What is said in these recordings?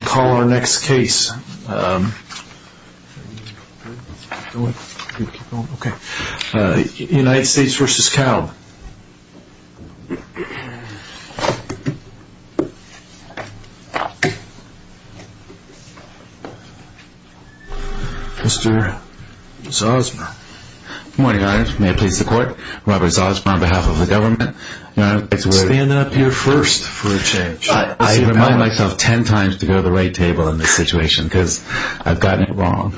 Good morning Your Honor, may I please the court, Robert Zosmar on behalf of the government. Stand up your first for a change. I remind myself ten times to go to the right table in this situation because I've gotten it wrong.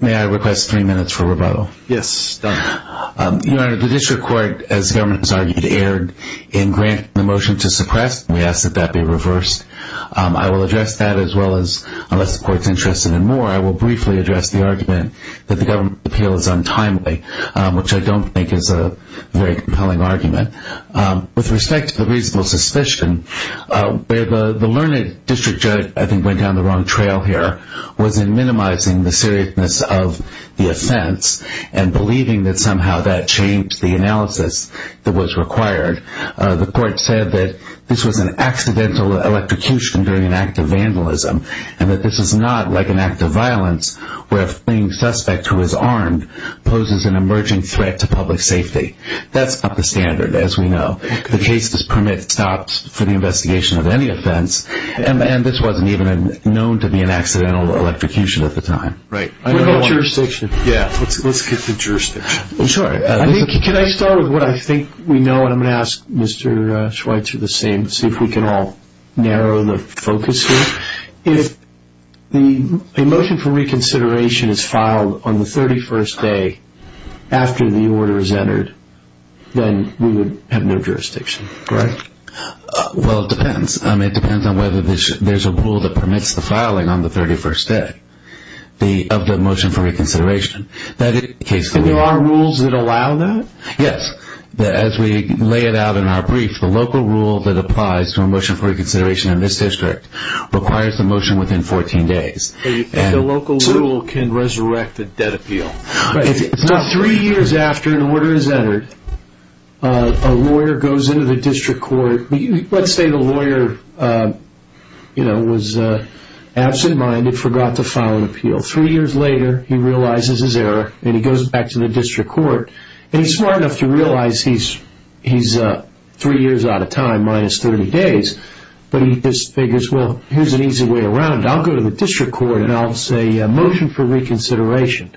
May I request three minutes for rebuttal? Yes, done. Your Honor, the district court, as the government has argued, erred in granting the motion to suppress. We ask that that be reversed. I will address that as well as, unless the court is interested in more, I will briefly address the argument that the government appeal is untimely, which I don't think is a very compelling argument. With respect to the reasonable suspicion, the learned district judge, I think, went down the wrong trail here, was in minimizing the seriousness of the offense and believing that somehow that changed the analysis that was required. The court said that this was an accidental electrocution during an act of vandalism and that this is not like an act of violence where a fleeing suspect who is armed poses an emerging threat to public safety. That's up to standard, as we know. The case does permit stops for the investigation of any offense, and this wasn't even known to be an accidental electrocution at the time. What about jurisdiction? Let's get to jurisdiction. Can I start with what I think we know, and I'm going to ask Mr. Schweitzer the same, see if we can all narrow the focus here. If a motion for reconsideration is filed on the 31st day after the order is entered, then we would have no jurisdiction, correct? Well, it depends. It depends on whether there's a rule that permits the filing on the 31st day of the motion for reconsideration. There are rules that allow that? Yes. As we lay it out in our brief, the local rule that applies to a motion for reconsideration in this district requires the motion within 14 days. The local rule can resurrect a debt appeal. Right. Three years after an order is entered, a lawyer goes into the district court. Let's say the lawyer was absent-minded, forgot to file an appeal. Three years later, he realizes his error, and he goes back to the district court. He's smart enough to realize he's three years out of time, minus 30 days, but he just figures, well, here's an easy way around. I'll go to the district court, and I'll say a motion for reconsideration,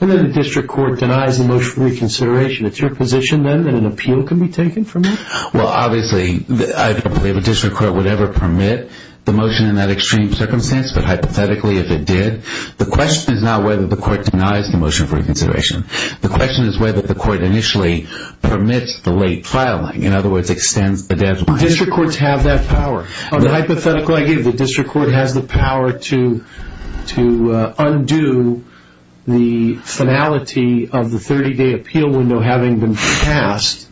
and then the district court denies the motion for reconsideration. It's your position, then, that an appeal can be taken from that? Well, obviously, I don't believe a district court would ever permit the motion in that extreme circumstance, but hypothetically, if it did, the question is not whether the court denies the motion for reconsideration. The question is whether the court initially permits the late filing, in other words, extends the debt. District courts have that power. The hypothetical I give, the district court has the power to undo the finality of the 30-day appeal window having been passed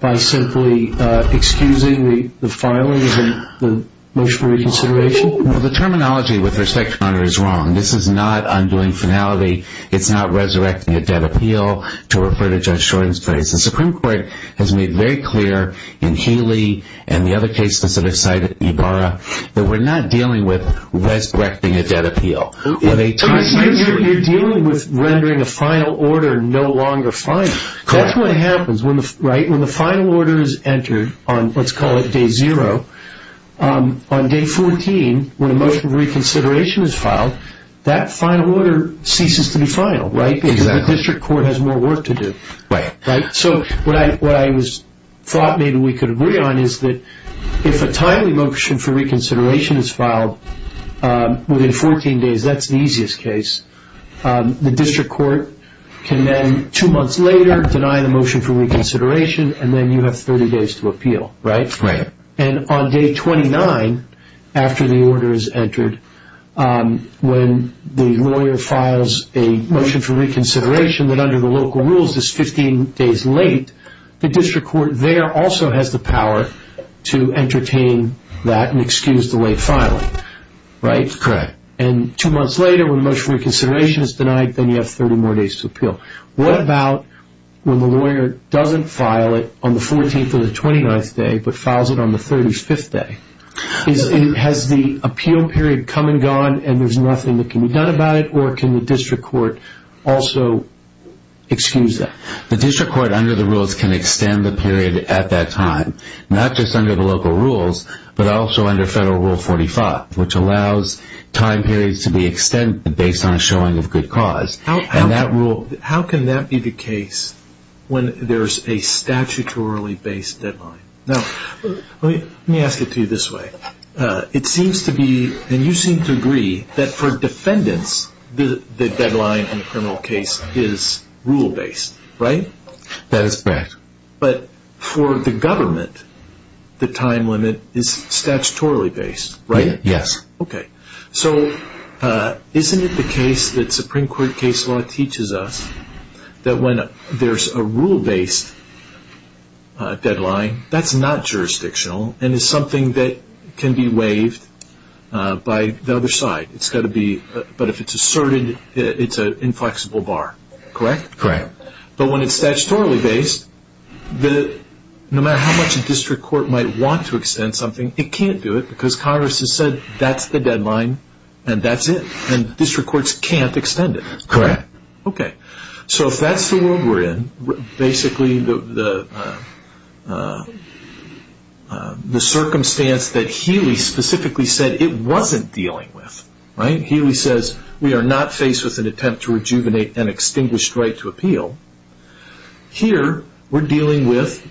by simply excusing the filing and the motion for reconsideration? Well, the terminology with respect to Conner is wrong. This is not undoing finality. It's not resurrecting a debt appeal to refer to Judge Jordan's place. The Supreme Court has made very clear in Healy and the other cases that are cited, Ibarra, that we're not dealing with resurrecting a debt appeal. You're dealing with rendering a final order no longer final. That's what happens when the final order is entered on, let's call it, day zero. On day 14, when a motion for reconsideration is filed, that final order ceases to be final because the district court has more work to do. Right. So what I thought maybe we could agree on is that if a timely motion for reconsideration is filed within 14 days, that's the easiest case. The district court can then, two months later, deny the motion for reconsideration and then you have 30 days to appeal, right? Right. And on day 29, after the order is entered, when the lawyer files a motion for reconsideration that under the local rules is 15 days late, the district court there also has the power to entertain that and excuse the late filing, right? Correct. And two months later, when a motion for reconsideration is denied, then you have 30 more days to appeal. What about when the lawyer doesn't file it on the 14th or the 29th day, but files it on the 35th day? Has the appeal period come and gone and there's nothing that can be done about it or can the district court also excuse that? The district court, under the rules, can extend the period at that time, not just under the local rules, but also under Federal Rule 45, which allows time periods to be extended based on a showing of good cause. How can that be the case when there's a statutorily based deadline? Now, let me ask it to you this way. It seems to be, and you seem to agree, that for defendants, the deadline in a criminal case is rule-based, right? That is correct. But for the government, the time limit is statutorily based, right? Yes. Okay. So isn't it the case that Supreme Court case law teaches us that when there's a rule-based deadline, that's not jurisdictional and is something that can be waived by the other side. But if it's asserted, it's an inflexible bar, correct? Correct. But when it's statutorily based, no matter how much a district court might want to extend something, it can't do it because Congress has said that's the deadline and that's it, and district courts can't extend it. Correct. Okay. So if that's the world we're in, basically the circumstance that Healy specifically said it wasn't dealing with, Healy says we are not faced with an attempt to rejuvenate an extinguished right to appeal. Here we're dealing with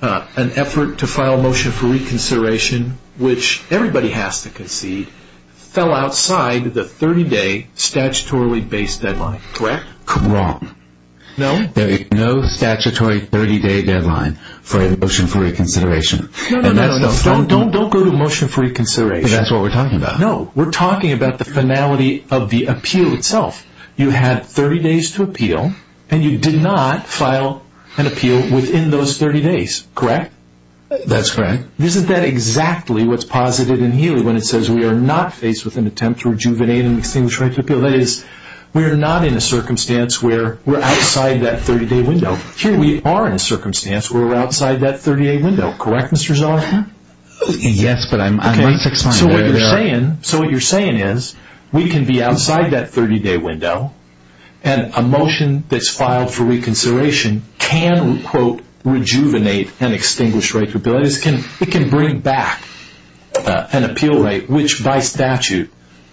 an effort to file a motion for reconsideration, which everybody has to concede, fell outside the 30-day statutorily-based deadline, correct? Wrong. No? There is no statutory 30-day deadline for a motion for reconsideration. No, no, no. Don't go to a motion for reconsideration. That's what we're talking about. No. We're talking about the finality of the appeal itself. You had 30 days to appeal, and you did not file an appeal within those 30 days, correct? That's correct. Isn't that exactly what's posited in Healy, when it says we are not faced with an attempt to rejuvenate an extinguished right to appeal? That is, we are not in a circumstance where we're outside that 30-day window. Here we are in a circumstance where we're outside that 30-day window, correct, Mr. Zeller? Yes, but I'm not fixated. So what you're saying is we can be outside that 30-day window, and a motion that's filed for reconsideration can, quote, rejuvenate an extinguished right to appeal. That is, it can bring back an appeal right which, by statute,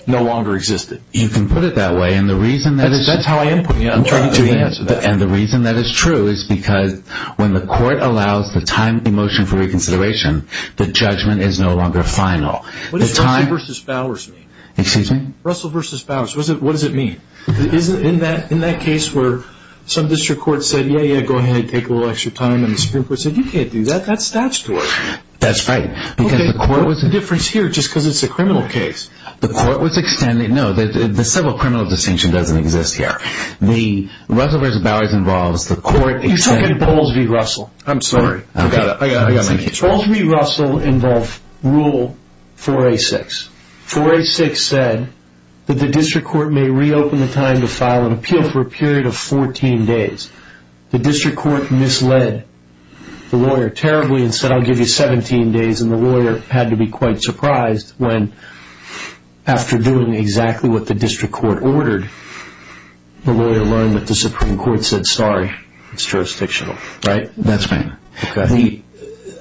no longer existed. You can put it that way. That's how I am putting it. I'm trying to answer that. And the reason that is true is because when the court allows the time for a motion for reconsideration, the judgment is no longer final. What does Russell v. Bowers mean? Excuse me? Russell v. Bowers. What does it mean? In that case where some district court said, yeah, yeah, go ahead, take a little extra time, and the Supreme Court said, you can't do that. That's statutory. That's right. Okay. What's the difference here just because it's a criminal case? The court was extended. No, the civil criminal distinction doesn't exist here. The Russell v. Bowers involves the court. You took it in Bowles v. Russell. I'm sorry. I got it. I got it. Thank you. Bowles v. Russell involved Rule 4A6. 4A6 said that the district court may reopen the time to file an appeal for a period of 14 days. The district court misled the lawyer terribly and said, I'll give you 17 days, and the lawyer had to be quite surprised when after doing exactly what the district court ordered, the lawyer learned that the Supreme Court said, sorry, it's jurisdictional. Right? That's right. Okay.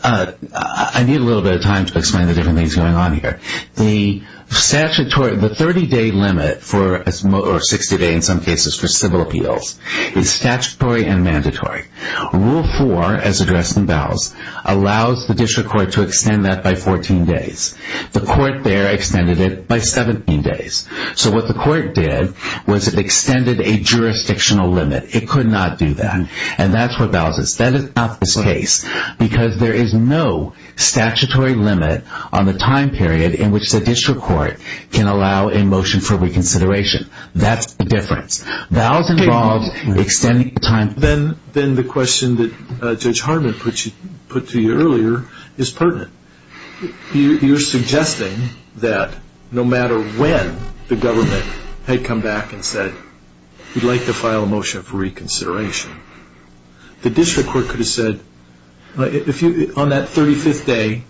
I need a little bit of time to explain the different things going on here. The 30-day limit or 60-day in some cases for civil appeals is statutory and mandatory. Rule 4, as addressed in Bowles, allows the district court to extend that by 14 days. The court there extended it by 17 days. So what the court did was it extended a jurisdictional limit. It could not do that, and that's what Bowles is. That is not this case because there is no statutory limit on the time period in which the district court can allow a motion for reconsideration. That's the difference. Bowles involved extending the time. Then the question that Judge Harmon put to you earlier is pertinent. You're suggesting that no matter when the government had come back and said, we'd like to file a motion for reconsideration, the district court could have said on that 35th day,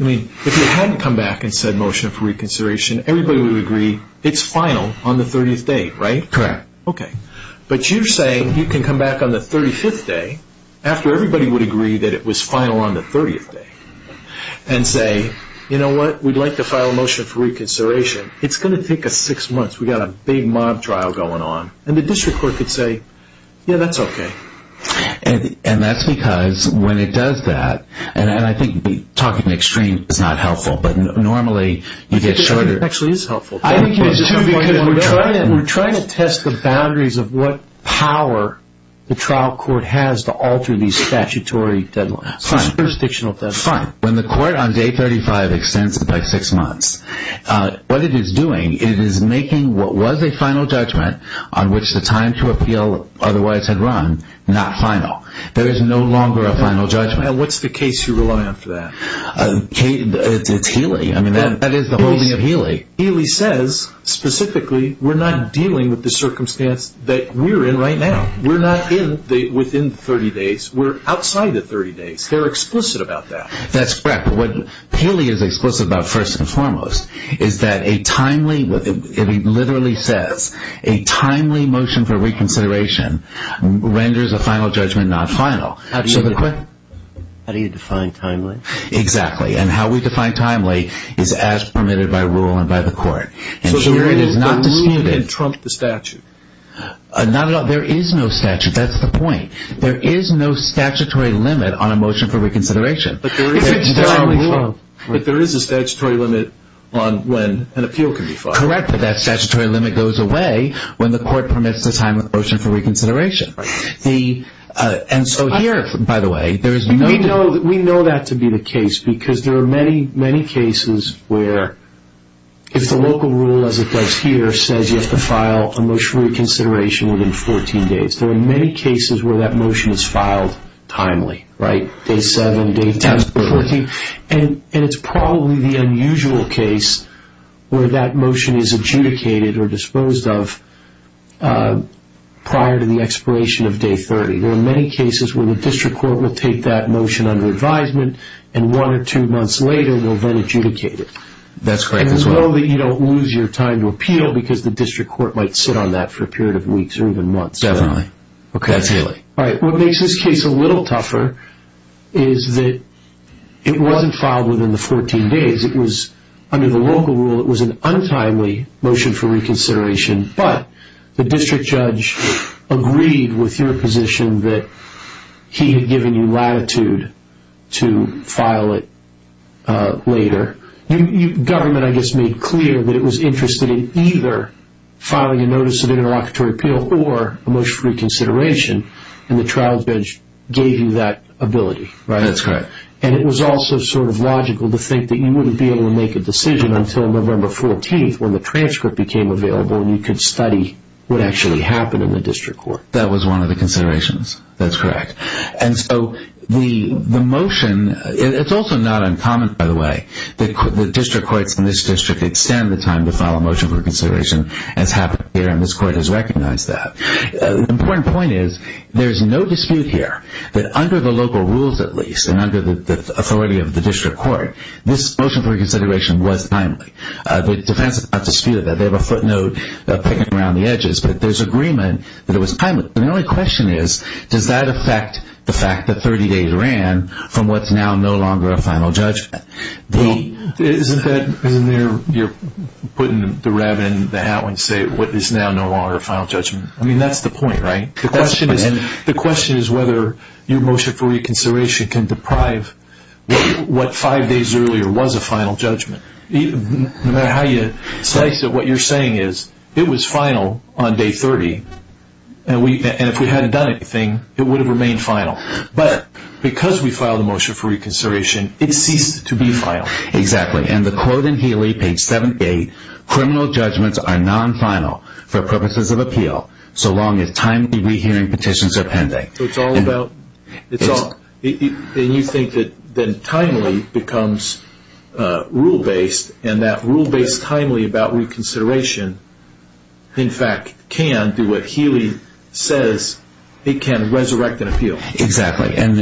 I mean, if it hadn't come back and said motion for reconsideration, everybody would agree it's final on the 30th day, right? Correct. Okay. But you're saying you can come back on the 35th day, after everybody would agree that it was final on the 30th day, and say, you know what, we'd like to file a motion for reconsideration. It's going to take us six months. We've got a big mob trial going on. And the district court could say, yeah, that's okay. And that's because when it does that, and I think talking extreme is not helpful, but normally you get shorter. It actually is helpful. We're trying to test the boundaries of what power the trial court has to alter these statutory deadlines, jurisdictional deadlines. Fine. When the court on day 35 extends it by six months, what it is doing, it is making what was a final judgment, on which the time to appeal otherwise had run, not final. There is no longer a final judgment. And what's the case you rely on for that? It's Healy. I mean, that is the holding of Healy. Healy says, specifically, we're not dealing with the circumstance that we're in right now. We're not within 30 days. We're outside the 30 days. They're explicit about that. That's correct. But what Healy is explicit about, first and foremost, is that a timely, if he literally says, a timely motion for reconsideration, renders a final judgment not final. How do you define timely? Exactly. And how we define timely is as permitted by rule and by the court. So the ruling can trump the statute? Not at all. There is no statute. That's the point. There is no statutory limit on a motion for reconsideration. But there is a statutory limit on when an appeal can be filed. Correct. But that statutory limit goes away when the court permits the time of the motion for reconsideration. And so here, by the way, there is no need. We know that to be the case because there are many, many cases where if the local rule, as it does here, says you have to file a motion for reconsideration within 14 days, there are many cases where that motion is filed timely, right, day 7, day 10, day 14. And it's probably the unusual case where that motion is adjudicated or disposed of prior to the expiration of day 30. There are many cases where the district court will take that motion under advisement and one or two months later will then adjudicate it. That's correct as well. And we know that you don't lose your time to appeal because the district court might sit on that for a period of weeks or even months. Definitely. Okay. That's hailing. All right. What makes this case a little tougher is that it wasn't filed within the 14 days. It was under the local rule. It was an untimely motion for reconsideration, but the district judge agreed with your position that he had given you latitude to file it later. Government, I guess, made clear that it was interested in either filing a notice of interlocutory appeal or a motion for reconsideration, and the trial bench gave you that ability. Right. That's correct. And it was also sort of logical to think that you wouldn't be able to make a decision until November 14th when the transcript became available and you could study what actually happened in the district court. That was one of the considerations. That's correct. And so the motion, it's also not uncommon, by the way, that district courts in this district extend the time to file a motion for reconsideration. I recognize that. The important point is there's no dispute here that under the local rules, at least, and under the authority of the district court, this motion for reconsideration was timely. The defense has not disputed that. They have a footnote picking around the edges, but there's agreement that it was timely. The only question is, does that affect the fact that 30 days ran from what's now no longer a final judgment? Well, isn't that, isn't there, you're putting the rabbit in the hat when you say what is now no longer a final judgment? I mean, that's the point, right? The question is whether your motion for reconsideration can deprive what five days earlier was a final judgment. No matter how you slice it, what you're saying is it was final on day 30, and if we hadn't done anything, it would have remained final. But because we filed a motion for reconsideration, it ceased to be final. Exactly. And the quote in Healy, page 78, criminal judgments are non-final for purposes of appeal, so long as timely rehearing petitions are pending. So it's all about, and you think that timely becomes rule-based, and that rule-based timely about reconsideration, in fact, can do what Healy says, it can resurrect an appeal. Exactly. And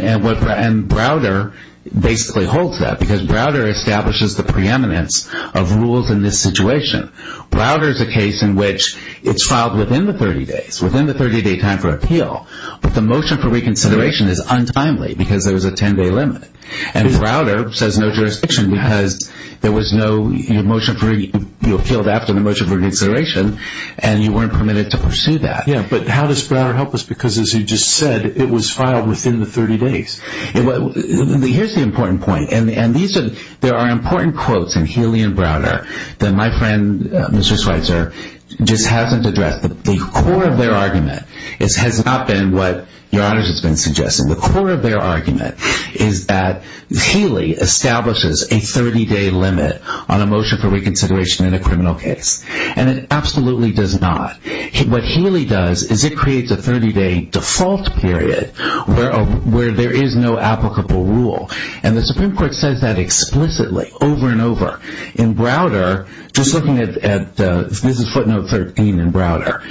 Browder basically holds that, because Browder establishes the preeminence of rules in this situation. Browder is a case in which it's filed within the 30 days, within the 30-day time for appeal, but the motion for reconsideration is untimely because there was a 10-day limit. And Browder says no jurisdiction because there was no motion for, you appealed after the motion for reconsideration, and you weren't permitted to pursue that. Yeah, but how does Browder help us? Because as you just said, it was filed within the 30 days. Here's the important point, and there are important quotes in Healy and Browder that my friend, Mr. Schweitzer, just hasn't addressed. The core of their argument has not been what Your Honors has been suggesting. The core of their argument is that Healy establishes a 30-day limit on a motion for reconsideration in a criminal case, and it absolutely does not. What Healy does is it creates a 30-day default period where there is no applicable rule. And the Supreme Court says that explicitly over and over. In Browder, just looking at Mrs. Footnote 13 in Browder,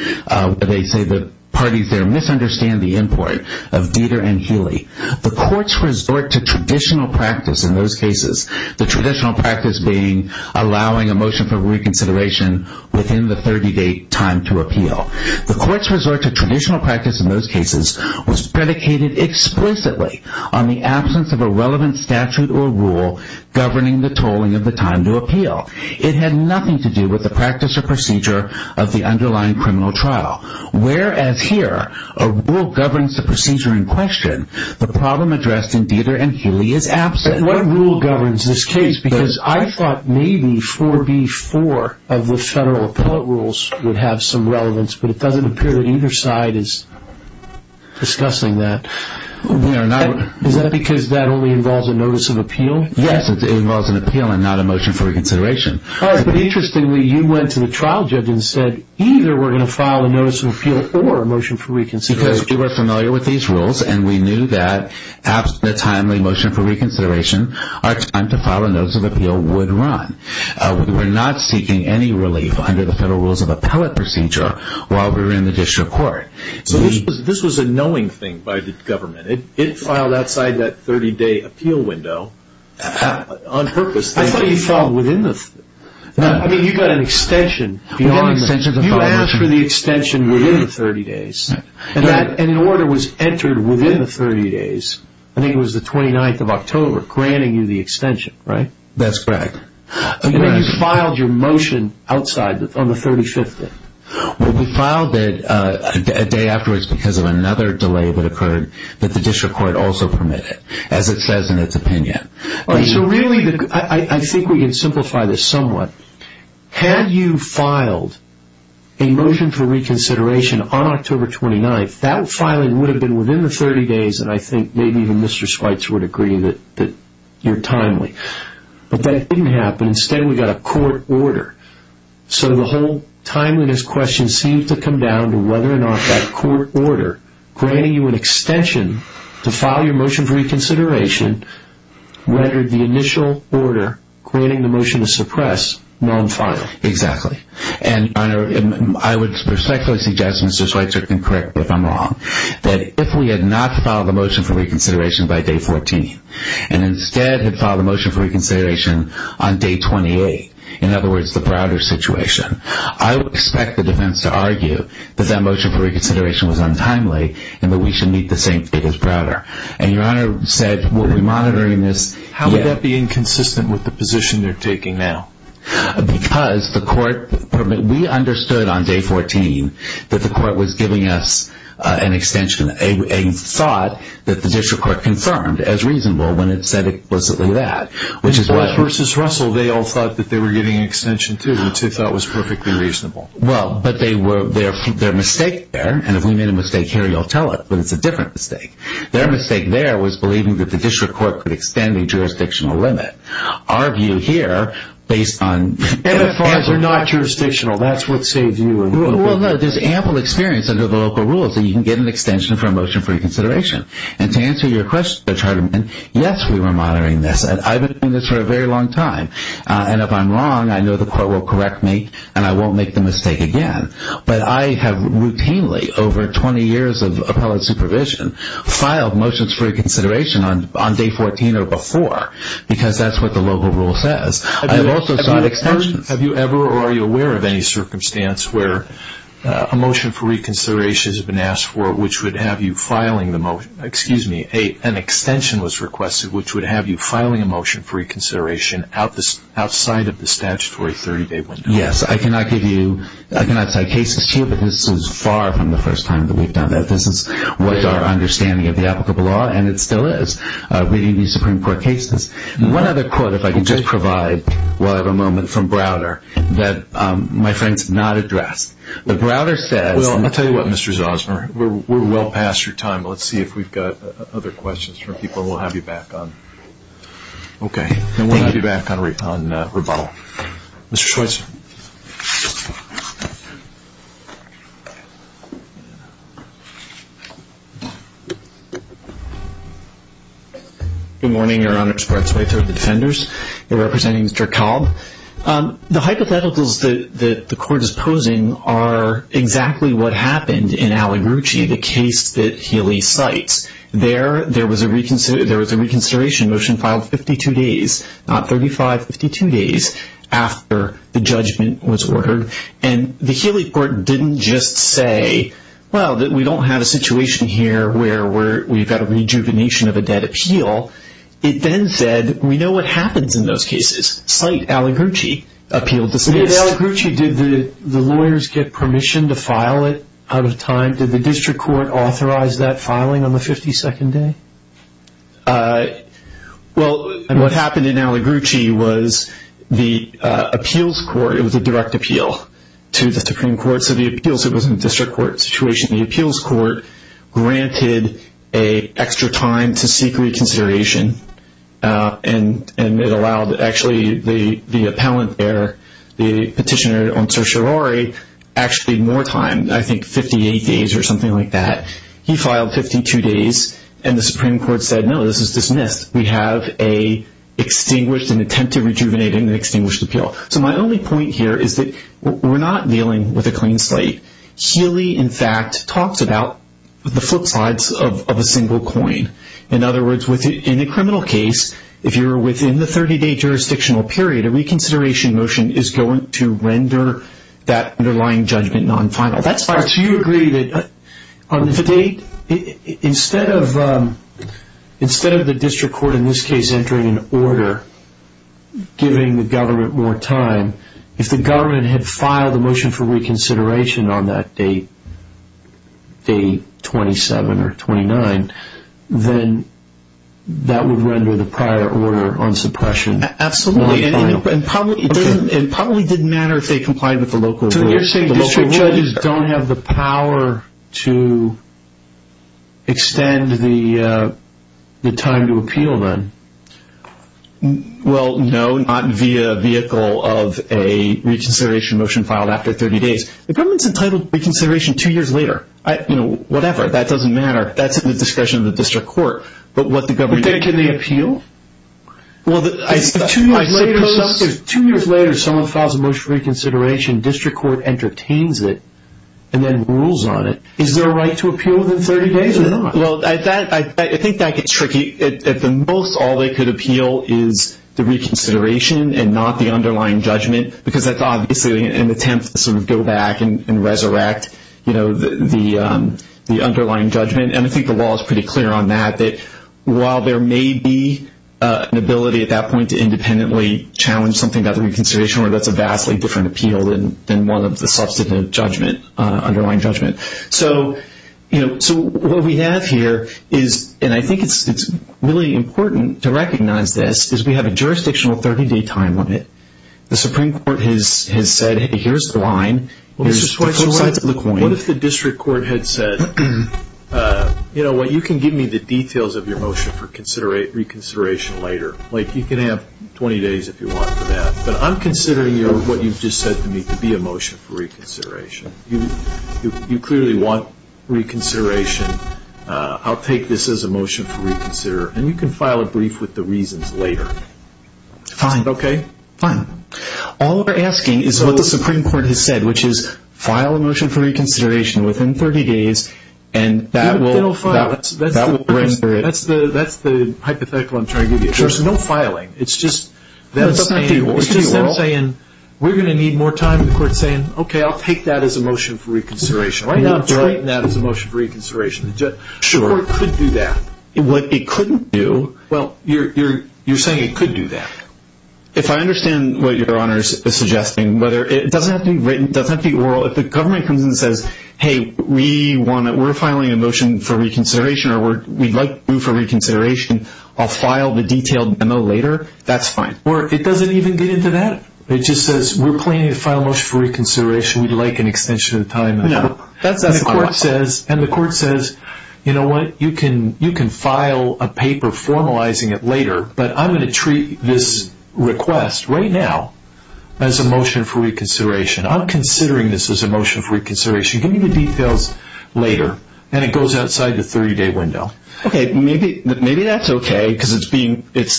they say the parties there misunderstand the import of Dieter and Healy. The court's resort to traditional practice in those cases, the traditional practice being allowing a motion for reconsideration within the 30-day time to appeal. The court's resort to traditional practice in those cases was predicated explicitly on the absence of a relevant statute or rule governing the tolling of the time to appeal. It had nothing to do with the practice or procedure of the underlying criminal trial. Whereas here, a rule governs the procedure in question, the problem addressed in Dieter and Healy is absent. What rule governs this case? Because I thought maybe 4B4 of the federal appellate rules would have some discussing that. Is that because that only involves a notice of appeal? Yes, it involves an appeal and not a motion for reconsideration. But interestingly, you went to the trial judge and said, either we're going to file a notice of appeal or a motion for reconsideration. Because we were familiar with these rules, and we knew that after the timely motion for reconsideration, our time to file a notice of appeal would run. We're not seeking any relief under the federal rules of appellate procedure while we're in the district court. So this was a knowing thing by the government. It filed outside that 30-day appeal window on purpose. I thought you filed within the 30 days. I mean, you got an extension. You asked for the extension within the 30 days, and an order was entered within the 30 days. I think it was the 29th of October, granting you the extension, right? That's correct. You filed your motion outside on the 35th day. We filed it a day afterwards because of another delay that occurred that the district court also permitted, as it says in its opinion. So really, I think we can simplify this somewhat. Had you filed a motion for reconsideration on October 29th, that filing would have been within the 30 days, and I think maybe even Mr. Schweitzer would agree that you're timely. But that didn't happen. Instead, we got a court order. So the whole timeliness question seems to come down to whether or not that court order, granting you an extension to file your motion for reconsideration, rendered the initial order, granting the motion to suppress, non-final. Exactly. And I would respectfully suggest, and Mr. Schweitzer can correct me if I'm wrong, that if we had not filed a motion for reconsideration by day 14 and instead had filed a motion for reconsideration on day 28, in other words, the Browder situation, I would expect the defense to argue that that motion for reconsideration was untimely and that we should meet the same date as Browder. And Your Honor said we'll be monitoring this. How would that be inconsistent with the position they're taking now? Because we understood on day 14 that the court was giving us an extension, a thought that the district court confirmed as reasonable when it said explicitly that. But versus Russell, they all thought that they were getting an extension, too, which they thought was perfectly reasonable. Well, but their mistake there, and if we made a mistake here, you'll tell it, but it's a different mistake. Their mistake there was believing that the district court could extend a jurisdictional limit. Our view here, based on- And as far as they're not jurisdictional, that's what saves you. Well, no, there's ample experience under the local rules that you can get an extension for a motion for reconsideration. And to answer your question, Mr. Charterman, yes, we were monitoring this, and I've been doing this for a very long time. And if I'm wrong, I know the court will correct me, and I won't make the mistake again. But I have routinely, over 20 years of appellate supervision, filed motions for reconsideration on day 14 or before because that's what the local rule says. I've also sought extensions. Have you ever or are you aware of any circumstance where a motion for reconsideration has been asked for, which would have you filing the motion-excuse me, an extension was requested, which would have you filing a motion for reconsideration outside of the statutory 30-day window? Yes, I cannot give you-I cannot cite cases to you, but this is far from the first time that we've done that. This is what our understanding of the applicable law, and it still is. We need new Supreme Court cases. One other quote, if I could just provide while I have a moment, from Browder that my friends have not addressed. But Browder says- Well, I'll tell you what, Mr. Zosner, we're well past your time, but let's see if we've got other questions from people we'll have you back on. Okay. And we'll have you back on rebuttal. Mr. Schweitzer. Good morning. Your Honor, it's Brett Schweitzer of the Defenders. I'm representing Mr. Cobb. The hypotheticals that the Court is posing are exactly what happened in Aligrucci, the case that Healy cites. There was a reconsideration motion filed 52 days, not 35, 52 days, after the Justice Department And the Healy Court didn't just say, well, we don't have a situation here where we've got a rejuvenation of a dead appeal. It then said, we know what happens in those cases. Cite Aligrucci. Appeal dismissed. In Aligrucci, did the lawyers get permission to file it out of time? Did the District Court authorize that filing on the 52nd day? Well, what happened in Aligrucci was the appeals court, it was a direct appeal to the Supreme Court. So the appeals, it wasn't a District Court situation. The appeals court granted an extra time to seek reconsideration. And it allowed, actually, the appellant there, the petitioner on certiorari, actually more time. I think 58 days or something like that. He filed 52 days, and the Supreme Court said, no, this is dismissed. We have an attempt to rejuvenate an extinguished appeal. So my only point here is that we're not dealing with a clean slate. Healy, in fact, talks about the flip sides of a single coin. In other words, in a criminal case, if you're within the 30-day jurisdictional period, a reconsideration motion is going to render that underlying judgment non-final. So you agree that on the date, instead of the District Court, in this case, entering an order giving the government more time, if the government had filed a motion for reconsideration on that date, day 27 or 29, then that would render the prior order on suppression non-final. Absolutely, and it probably didn't matter if they complied with the local rules. So you're saying district judges don't have the power to extend the time to appeal then? Well, no, not via vehicle of a reconsideration motion filed after 30 days. The government's entitled reconsideration two years later. Whatever, that doesn't matter. That's at the discretion of the District Court. But then can they appeal? Well, I suppose if two years later someone files a motion for reconsideration, District Court entertains it and then rules on it. Is there a right to appeal within 30 days or not? Well, I think that gets tricky. At the most, all they could appeal is the reconsideration and not the underlying judgment because that's obviously an attempt to sort of go back and resurrect the underlying judgment. And I think the law is pretty clear on that, that while there may be an ability at that point to independently challenge something about the reconsideration order, that's a vastly different appeal than one of the substantive judgment, underlying judgment. So what we have here is, and I think it's really important to recognize this, is we have a jurisdictional 30-day time limit. The Supreme Court has said, hey, here's the line. Mr. Schweitzer, what if the District Court had said, you know what, you can give me the details of your motion for reconsideration later. Like you can have 20 days if you want for that. But I'm considering what you've just said to me to be a motion for reconsideration. You clearly want reconsideration. I'll take this as a motion for reconsider. And you can file a brief with the reasons later. Is that okay? Fine. All we're asking is what the Supreme Court has said, which is file a motion for reconsideration within 30 days, and that will render it. That's the hypothetical I'm trying to give you. There's no filing. It's just them saying, we're going to need more time. The court's saying, okay, I'll take that as a motion for reconsideration. Why not treat that as a motion for reconsideration? The court could do that. What it couldn't do. Well, you're saying it could do that. If I understand what Your Honors is suggesting, whether it doesn't have to be written, doesn't have to be oral, if the government comes and says, hey, we're filing a motion for reconsideration or we'd like to do for reconsideration, I'll file the detailed memo later, that's fine. Or it doesn't even get into that. It just says, we're planning to file a motion for reconsideration. We'd like an extension of time. And the court says, you know what, you can file a paper formalizing it later, but I'm going to treat this request right now as a motion for reconsideration. I'm considering this as a motion for reconsideration. Give me the details later. And it goes outside the 30-day window. Okay, maybe that's okay because it's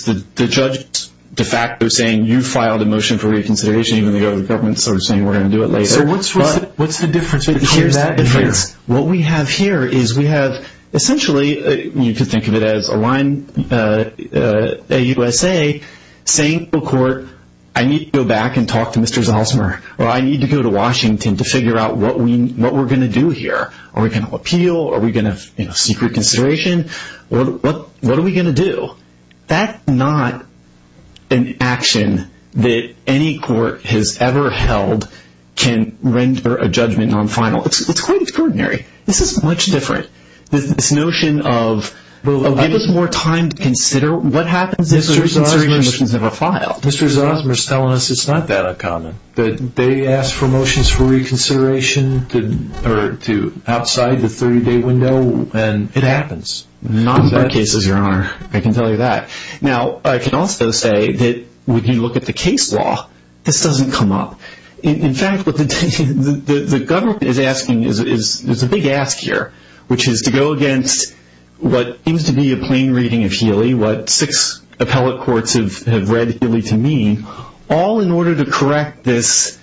the judge de facto saying, you filed a motion for reconsideration, even though the government's sort of saying we're going to do it later. So what's the difference between that and here? What we have here is we have essentially, you can think of it as a line, a USA, saying to a court, I need to go back and talk to Mr. Zalzmer or I need to go to Washington to figure out what we're going to do here. Are we going to appeal? Are we going to seek reconsideration? What are we going to do? That's not an action that any court has ever held can render a judgment non-final. It's quite extraordinary. This is much different. This notion of give us more time to consider what happens if a reconsideration motion is ever filed. Mr. Zalzmer is telling us it's not that uncommon, that they ask for motions for reconsideration outside the 30-day window and it happens. Not in our cases, Your Honor. I can tell you that. Now, I can also say that when you look at the case law, this doesn't come up. In fact, what the government is asking is a big ask here, which is to go against what seems to be a plain reading of Healy, what six appellate courts have read Healy to mean, all in order to correct this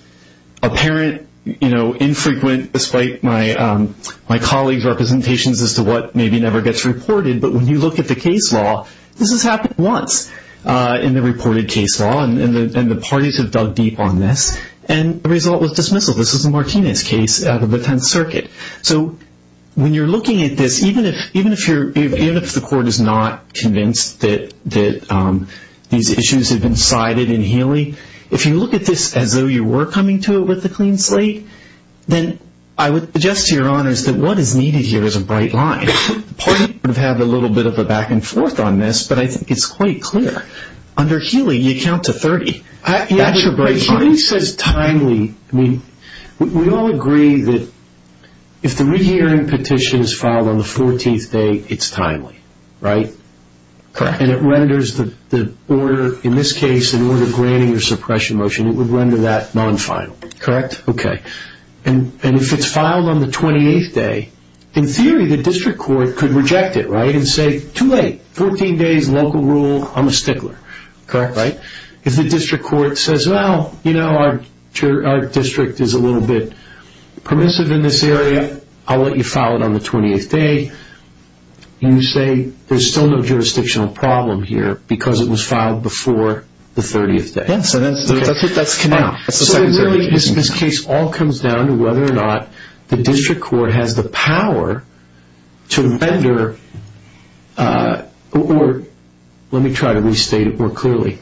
apparent, infrequent, despite my colleagues' representations as to what maybe never gets reported, but when you look at the case law, this has happened once in the reported case law, and the parties have dug deep on this, and the result was dismissal. This is a Martinez case out of the Tenth Circuit. So when you're looking at this, even if the court is not convinced that these issues have been cited in Healy, if you look at this as though you were coming to it with a clean slate, then I would suggest to Your Honors that what is needed here is a bright line. The parties have had a little bit of a back and forth on this, but I think it's quite clear. Under Healy, you count to 30. That's a bright line. Healy says timely. We all agree that if the rehearing petition is filed on the 14th day, it's timely, right? Correct. And it renders the order, in this case, in order of granting or suppression motion, it would render that non-final, correct? Okay. And if it's filed on the 28th day, in theory, the district court could reject it, right, and say, too late, 14 days, local rule, I'm a stickler. Correct. Right? If the district court says, well, you know, our district is a little bit permissive in this area, I'll let you file it on the 20th day, you say there's still no jurisdictional problem here because it was filed before the 30th day. Yes, and that's it. This case all comes down to whether or not the district court has the power to render or let me try to restate it more clearly.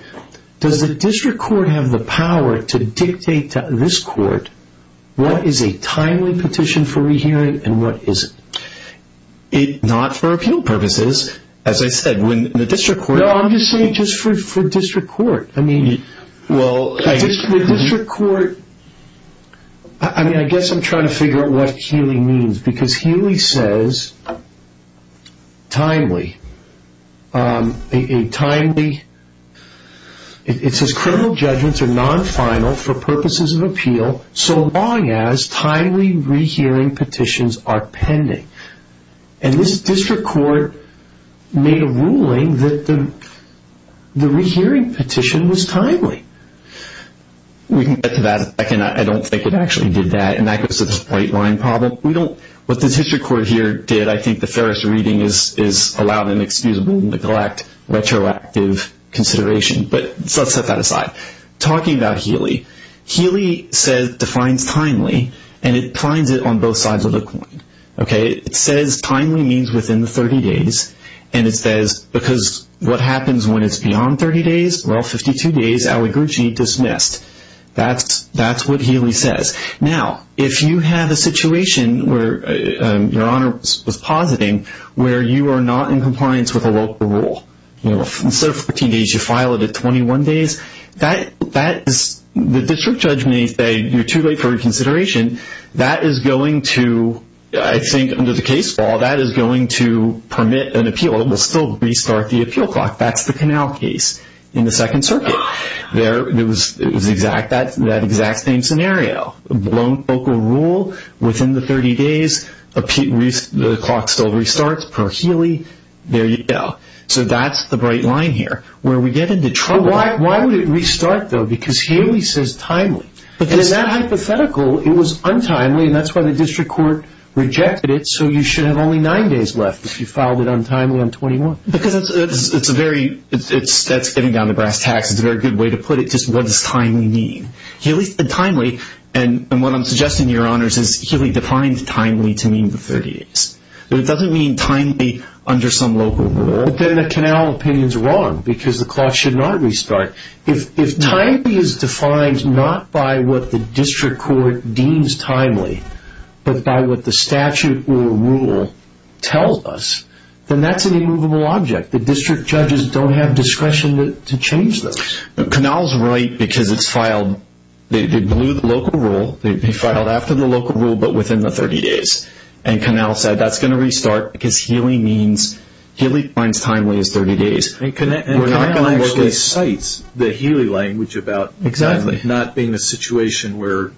Does the district court have the power to dictate to this court what is a timely petition for rehearing and what isn't? Not for appeal purposes. As I said, when the district court. No, I'm just saying just for district court. I mean, the district court, I mean, I guess I'm trying to figure out what Healy means because Healy says timely, it says criminal judgments are non-final for purposes of appeal so long as timely rehearing petitions are pending. And this district court made a ruling that the rehearing petition was timely. We can get to that in a second. I don't think it actually did that. And that goes to this white line problem. What the district court here did, I think the fairest reading is allow them excusable neglect, retroactive consideration, but let's set that aside. Talking about Healy, Healy defines timely and it defines it on both sides of the coin. Okay? It says timely means within the 30 days and it says because what happens when it's beyond 30 days? Well, 52 days, Aligurji, dismissed. That's what Healy says. Now, if you have a situation where your honor was positing where you are not in compliance with a local rule, instead of 14 days you file it at 21 days, that is, the district judge may say you're too late for reconsideration. That is going to, I think under the case law, that is going to permit an appeal. It will still restart the appeal clock. That's the Canal case in the Second Circuit. It was that exact same scenario. Blown local rule within the 30 days, the clock still restarts per Healy. There you go. So that's the bright line here where we get into trouble. Why would it restart though? Because Healy says timely. In that hypothetical it was untimely and that's why the district court rejected it so you should have only nine days left if you filed it untimely on 21. Because it's a very, that's getting down to brass tacks, it's a very good way to put it, just what does timely mean? Healy said timely and what I'm suggesting to your honors is Healy defined timely to mean the 30 days. It doesn't mean timely under some local rule. Then the Canal opinion is wrong because the clock should not restart. If timely is defined not by what the district court deems timely but by what the statute or rule tells us, then that's an immovable object. The district judges don't have discretion to change those. Canal is right because it's filed, they blew the local rule, they filed after the local rule but within the 30 days. And Canal said that's going to restart because Healy means, Healy finds timely as 30 days. And Canal actually cites the Healy language about not being a situation where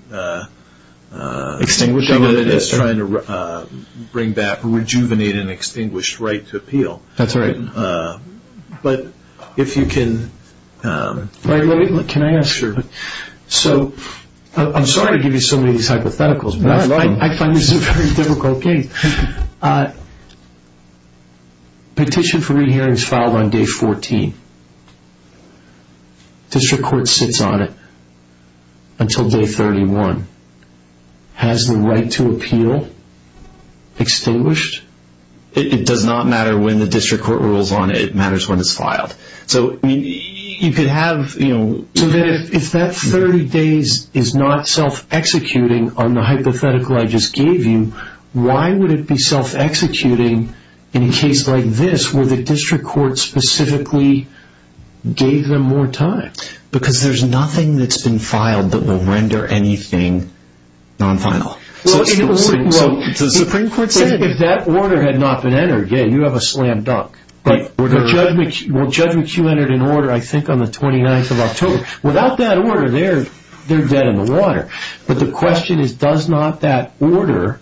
it's trying to bring back, rejuvenate an extinguished right to appeal. That's right. But if you can... Can I ask? Sure. So I'm sorry to give you so many of these hypotheticals but I find this is a very difficult case. Petition for re-hearing is filed on day 14. District court sits on it until day 31. Has the right to appeal extinguished? It does not matter when the district court rules on it, it matters when it's filed. So you could have... So then if that 30 days is not self-executing on the hypothetical I just gave you, why would it be self-executing in a case like this where the district court specifically gave them more time? Because there's nothing that's been filed that will render anything non-final. So the Supreme Court said... If that order had not been entered, yeah, you have a slam dunk. Judge McHugh entered an order I think on the 29th of October. Without that order they're dead in the water. But the question is does not that order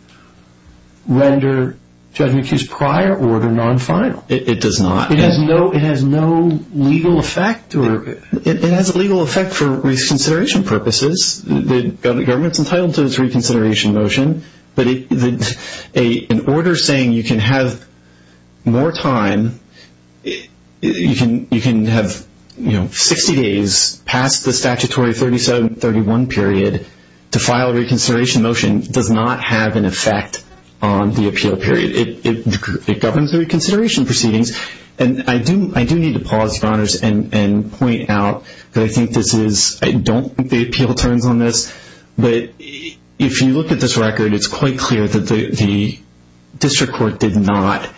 render Judge McHugh's prior order non-final? It does not. It has no legal effect? It has a legal effect for reconsideration purposes. The government's entitled to its reconsideration motion. But an order saying you can have more time, you can have 60 days past the statutory 37-31 period to file a reconsideration motion does not have an effect on the appeal period. It governs the reconsideration proceedings. And I do need to pause, Your Honors, and point out that I think this is... I don't think the appeal turns on this. But if you look at this record, it's quite clear that the district court did not...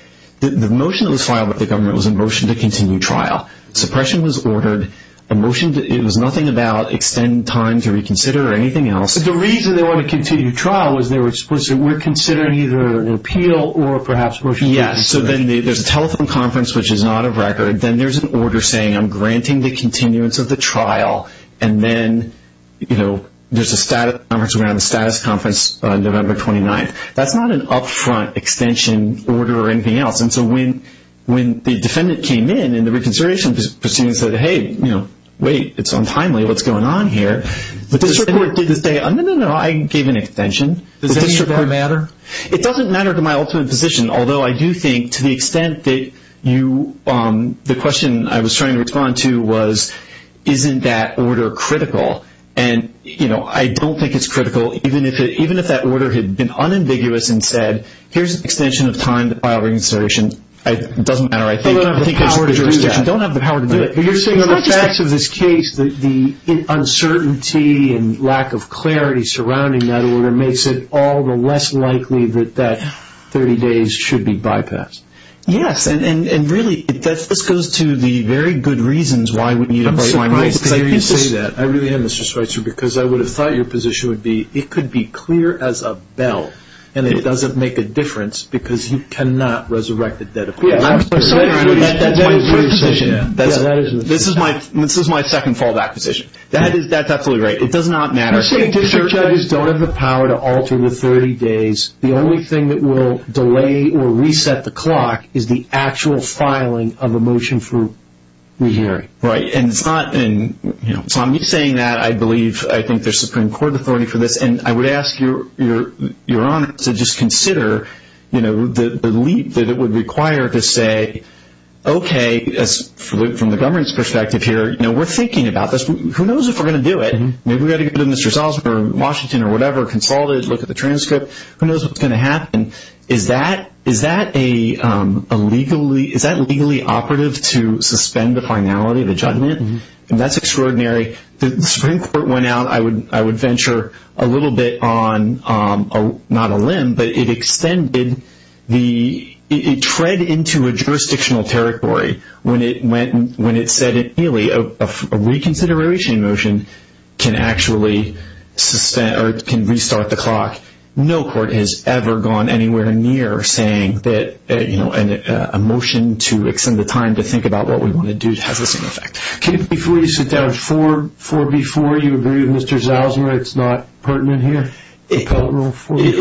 The motion that was filed with the government was a motion to continue trial. Suppression was ordered. It was nothing about extending time to reconsider or anything else. But the reason they wanted to continue trial was they were considering either an appeal or perhaps motion to reconsider. Yes. So then there's a telephone conference, which is not of record. Then there's an order saying I'm granting the continuance of the trial. And then, you know, there's a status conference. We're going to have a status conference on November 29th. That's not an upfront extension order or anything else. And so when the defendant came in and the reconsideration proceedings said, hey, wait, it's untimely. What's going on here? The district court did this thing. No, no, no. I gave an extension. Does that matter? It doesn't matter to my ultimate position. Although I do think to the extent that the question I was trying to respond to was isn't that order critical? And, you know, I don't think it's critical. Even if that order had been unambiguous and said here's an extension of time to file a reconsideration, it doesn't matter. I don't have the power to do that. You don't have the power to do it. But you're saying on the facts of this case, the uncertainty and lack of clarity surrounding that order makes it all the less likely that that 30 days should be bypassed. Yes. And, really, this goes to the very good reasons why we need a break line. I'm surprised to hear you say that. I really am, Mr. Schweitzer, because I would have thought your position would be it could be clear as a bell, and it doesn't make a difference because you cannot resurrect the dead. That's my position. This is my second fallback position. That's absolutely right. It does not matter. You're saying if the judges don't have the power to alter the 30 days, the only thing that will delay or reset the clock is the actual filing of a motion for rehearing. Right. And it's not me saying that. I believe I think there's Supreme Court authority for this. And I would ask Your Honor to just consider the leap that it would require to say, okay, from the government's perspective here, we're thinking about this. Who knows if we're going to do it? Maybe we've got to go to Mr. Salzberg or Washington or whatever, consult it, look at the transcript. Who knows what's going to happen? Is that legally operative to suspend the finality of the judgment? That's extraordinary. The Supreme Court went out. I would venture a little bit on not a limb, but it extended the ‑‑ it tread into a jurisdictional territory. When it said a reconsideration motion can actually restart the clock, no court has ever gone anywhere near saying that a motion to extend the time to think about what we want to do has the same effect. Before you sit down, 4B4, you agree with Mr. Salzberg it's not pertinent here? It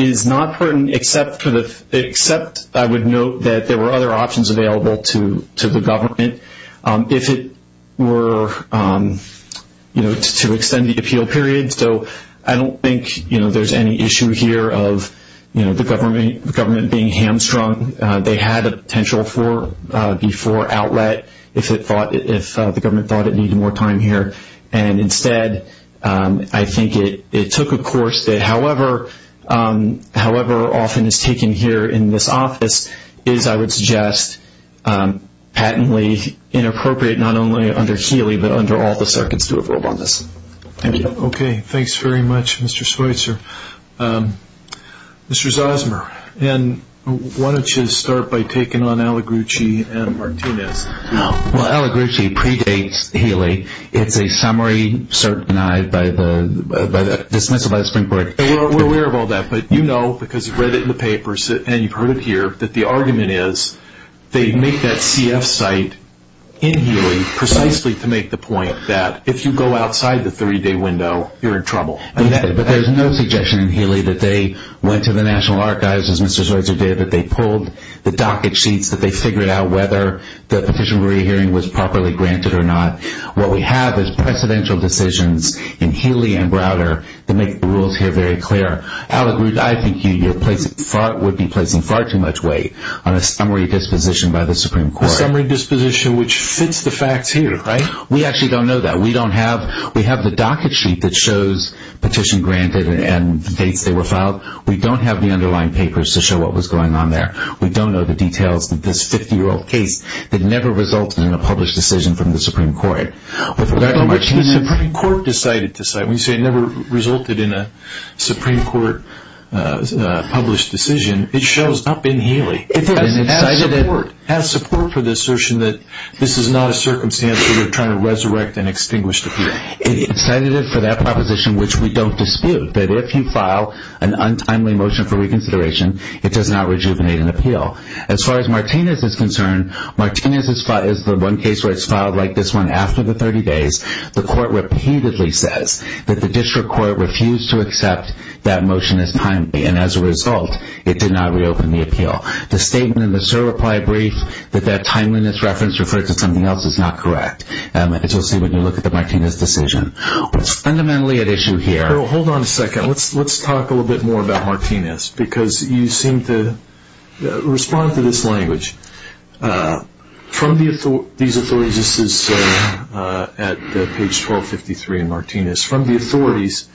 is not pertinent, except I would note that there were other options available to the government if it were to extend the appeal period. So I don't think there's any issue here of the government being hamstrung. They had a potential 4B4 outlet if the government thought it needed more time here. Instead, I think it took a course that, however often it's taken here in this office, is, I would suggest, patently inappropriate not only under Healy, but under all the circuits to approve on this. Thank you. Okay, thanks very much, Mr. Schweitzer. Mr. Zosmer, why don't you start by taking on Aligrucci and Martinez. No. Well, Aligrucci predates Healy. It's a summary cert denied by the dismissal by the Supreme Court. We're aware of all that, but you know because you've read it in the papers and you've heard it here that the argument is they make that CF site in Healy precisely to make the point that if you go outside the 30‑day window, you're in trouble. But there's no suggestion in Healy that they went to the National Archives, as Mr. Schweitzer did, that they pulled the docket sheets, that they figured out whether the petition for rehearing was properly granted or not. What we have is precedential decisions in Healy and Browder that make the rules here very clear. Aligrucci, I think you would be placing far too much weight on a summary disposition by the Supreme Court. A summary disposition which fits the facts here, right? We actually don't know that. We don't have the docket sheet that shows petition granted and the dates they were filed. We don't have the underlying papers to show what was going on there. We don't know the details of this 50‑year‑old case that never resulted in a published decision from the Supreme Court. But when you say it never resulted in a Supreme Court published decision, it shows up in Healy as support for the assertion that this is not a circumstance where you're trying to resurrect an extinguished appeal. It's sedative for that proposition, which we don't dispute, that if you file an untimely motion for reconsideration, it does not rejuvenate an appeal. As far as Martinez is concerned, Martinez is the one case where it's filed like this one after the 30 days. The court repeatedly says that the district court refused to accept that motion as timely, The statement in the certify brief that that timeliness reference referred to something else is not correct. As you'll see when you look at the Martinez decision. It's fundamentally at issue here. Hold on a second. Let's talk a little bit more about Martinez because you seem to respond to this language. From these authorities, this is at page 1253 in Martinez. From the authorities,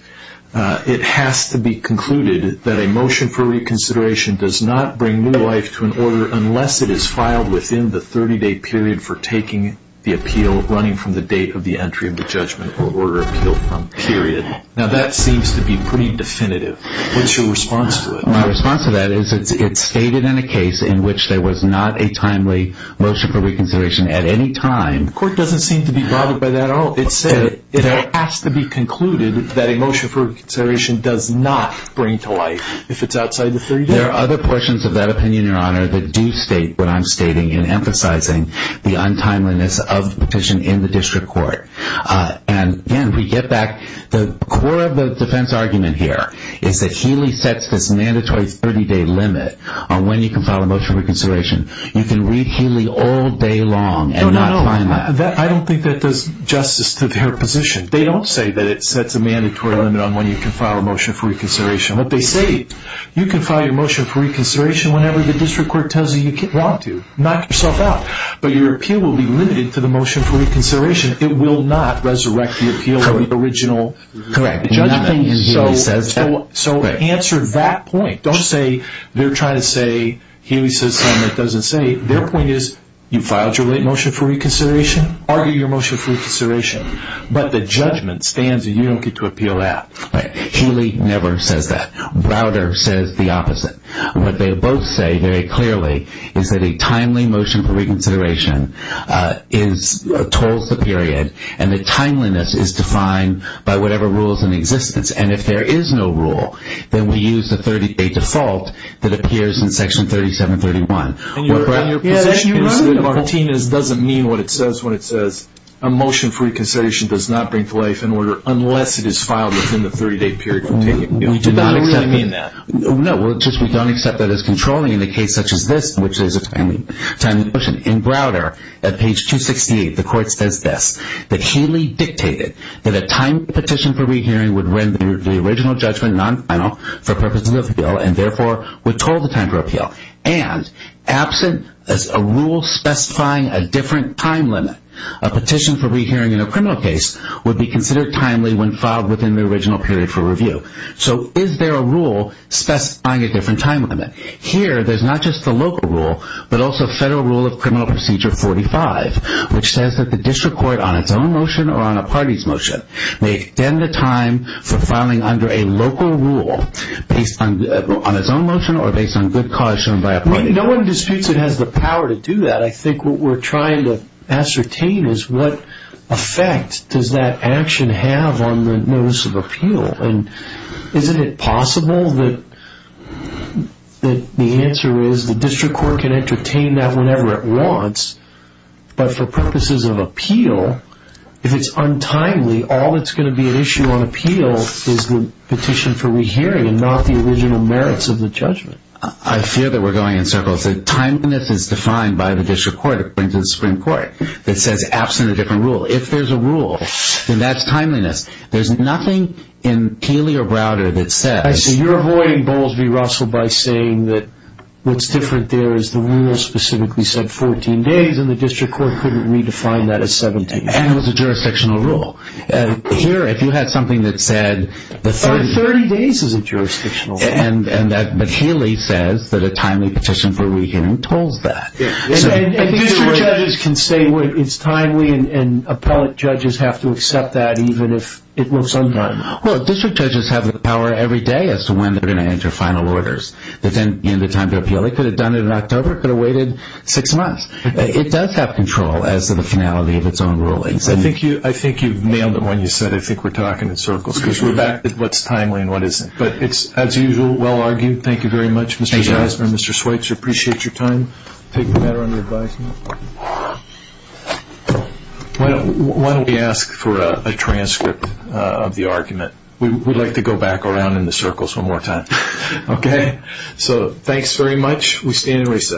it has to be concluded that a motion for reconsideration does not bring new life to an order unless it is filed within the 30 day period for taking the appeal running from the date of the entry of the judgment or order appeal from period. Now that seems to be pretty definitive. What's your response to it? My response to that is it's stated in a case in which there was not a timely motion for reconsideration at any time. The court doesn't seem to be bothered by that at all. It said it has to be concluded that a motion for reconsideration does not bring to life if it's outside the 30 day period. There are other portions of that opinion, your honor, that do state what I'm stating and emphasizing the untimeliness of the petition in the district court. And again, if we get back, the core of the defense argument here is that Healy sets this mandatory 30 day limit on when you can file a motion for reconsideration. You can read Healy all day long and not find that. I don't think that does justice to their position. They don't say that it sets a mandatory limit on when you can file a motion for reconsideration. What they say, you can file your motion for reconsideration whenever the district court tells you you want to. Knock yourself out. But your appeal will be limited to the motion for reconsideration. It will not resurrect the appeal of the original judgment. So answer that point. Don't say they're trying to say, Healy says something that doesn't say. Their point is, you filed your motion for reconsideration. Argue your motion for reconsideration. But the judgment stands and you don't get to appeal that. Healy never says that. Rauder says the opposite. What they both say very clearly is that a timely motion for reconsideration tolls the period and the timeliness is defined by whatever rules in existence. And if there is no rule, then we use a default that appears in Section 3731. And your position is that Martinez doesn't mean what it says when it says, a motion for reconsideration does not bring to life in order unless it is filed within the 30-day period. We do not accept that. No, we don't accept that as controlling in a case such as this, which is a timely motion. In Rauder, at page 268, the court says this, that Healy dictated that a timed petition for rehearing would render the original judgment non-final for purposes of appeal and therefore would toll the time for appeal. And absent a rule specifying a different time limit, a petition for rehearing in a criminal case would be considered timely when filed within the original period for review. So is there a rule specifying a different time limit? Here, there's not just the local rule, but also Federal Rule of Criminal Procedure 45, which says that the district court on its own motion or on a party's motion may extend the time for filing under a local rule based on its own motion or based on good cause shown by a party. No one disputes it has the power to do that. I think what we're trying to ascertain is what effect does that action have on the notice of appeal? And isn't it possible that the answer is the district court can entertain that whenever it wants, but for purposes of appeal, if it's untimely, all that's going to be an issue on appeal is the petition for rehearing and not the original merits of the judgment. I fear that we're going in circles. Timeliness is defined by the district court according to the Supreme Court that says absent a different rule. If there's a rule, then that's timeliness. There's nothing in Healy or Browder that says... 30 days and the district court couldn't redefine that as 17 days. And it was a jurisdictional rule. Here, if you had something that said... 30 days is a jurisdictional rule. But Healy says that a timely petition for rehearing told that. And district judges can say it's timely and appellate judges have to accept that even if it looks untimely. Well, district judges have the power every day as to when they're going to enter final orders. They could have done it in October, could have waited six months. It does have control as to the finality of its own rulings. I think you've nailed it when you said, I think we're talking in circles, because we're back to what's timely and what isn't. But it's, as usual, well-argued. Thank you very much, Mr. Zeisner and Mr. Schweitzer. Appreciate your time. Take the matter under advisement. Why don't we ask for a transcript of the argument? We'd like to go back around in the circles one more time. Okay. So thanks very much. We stand in recess.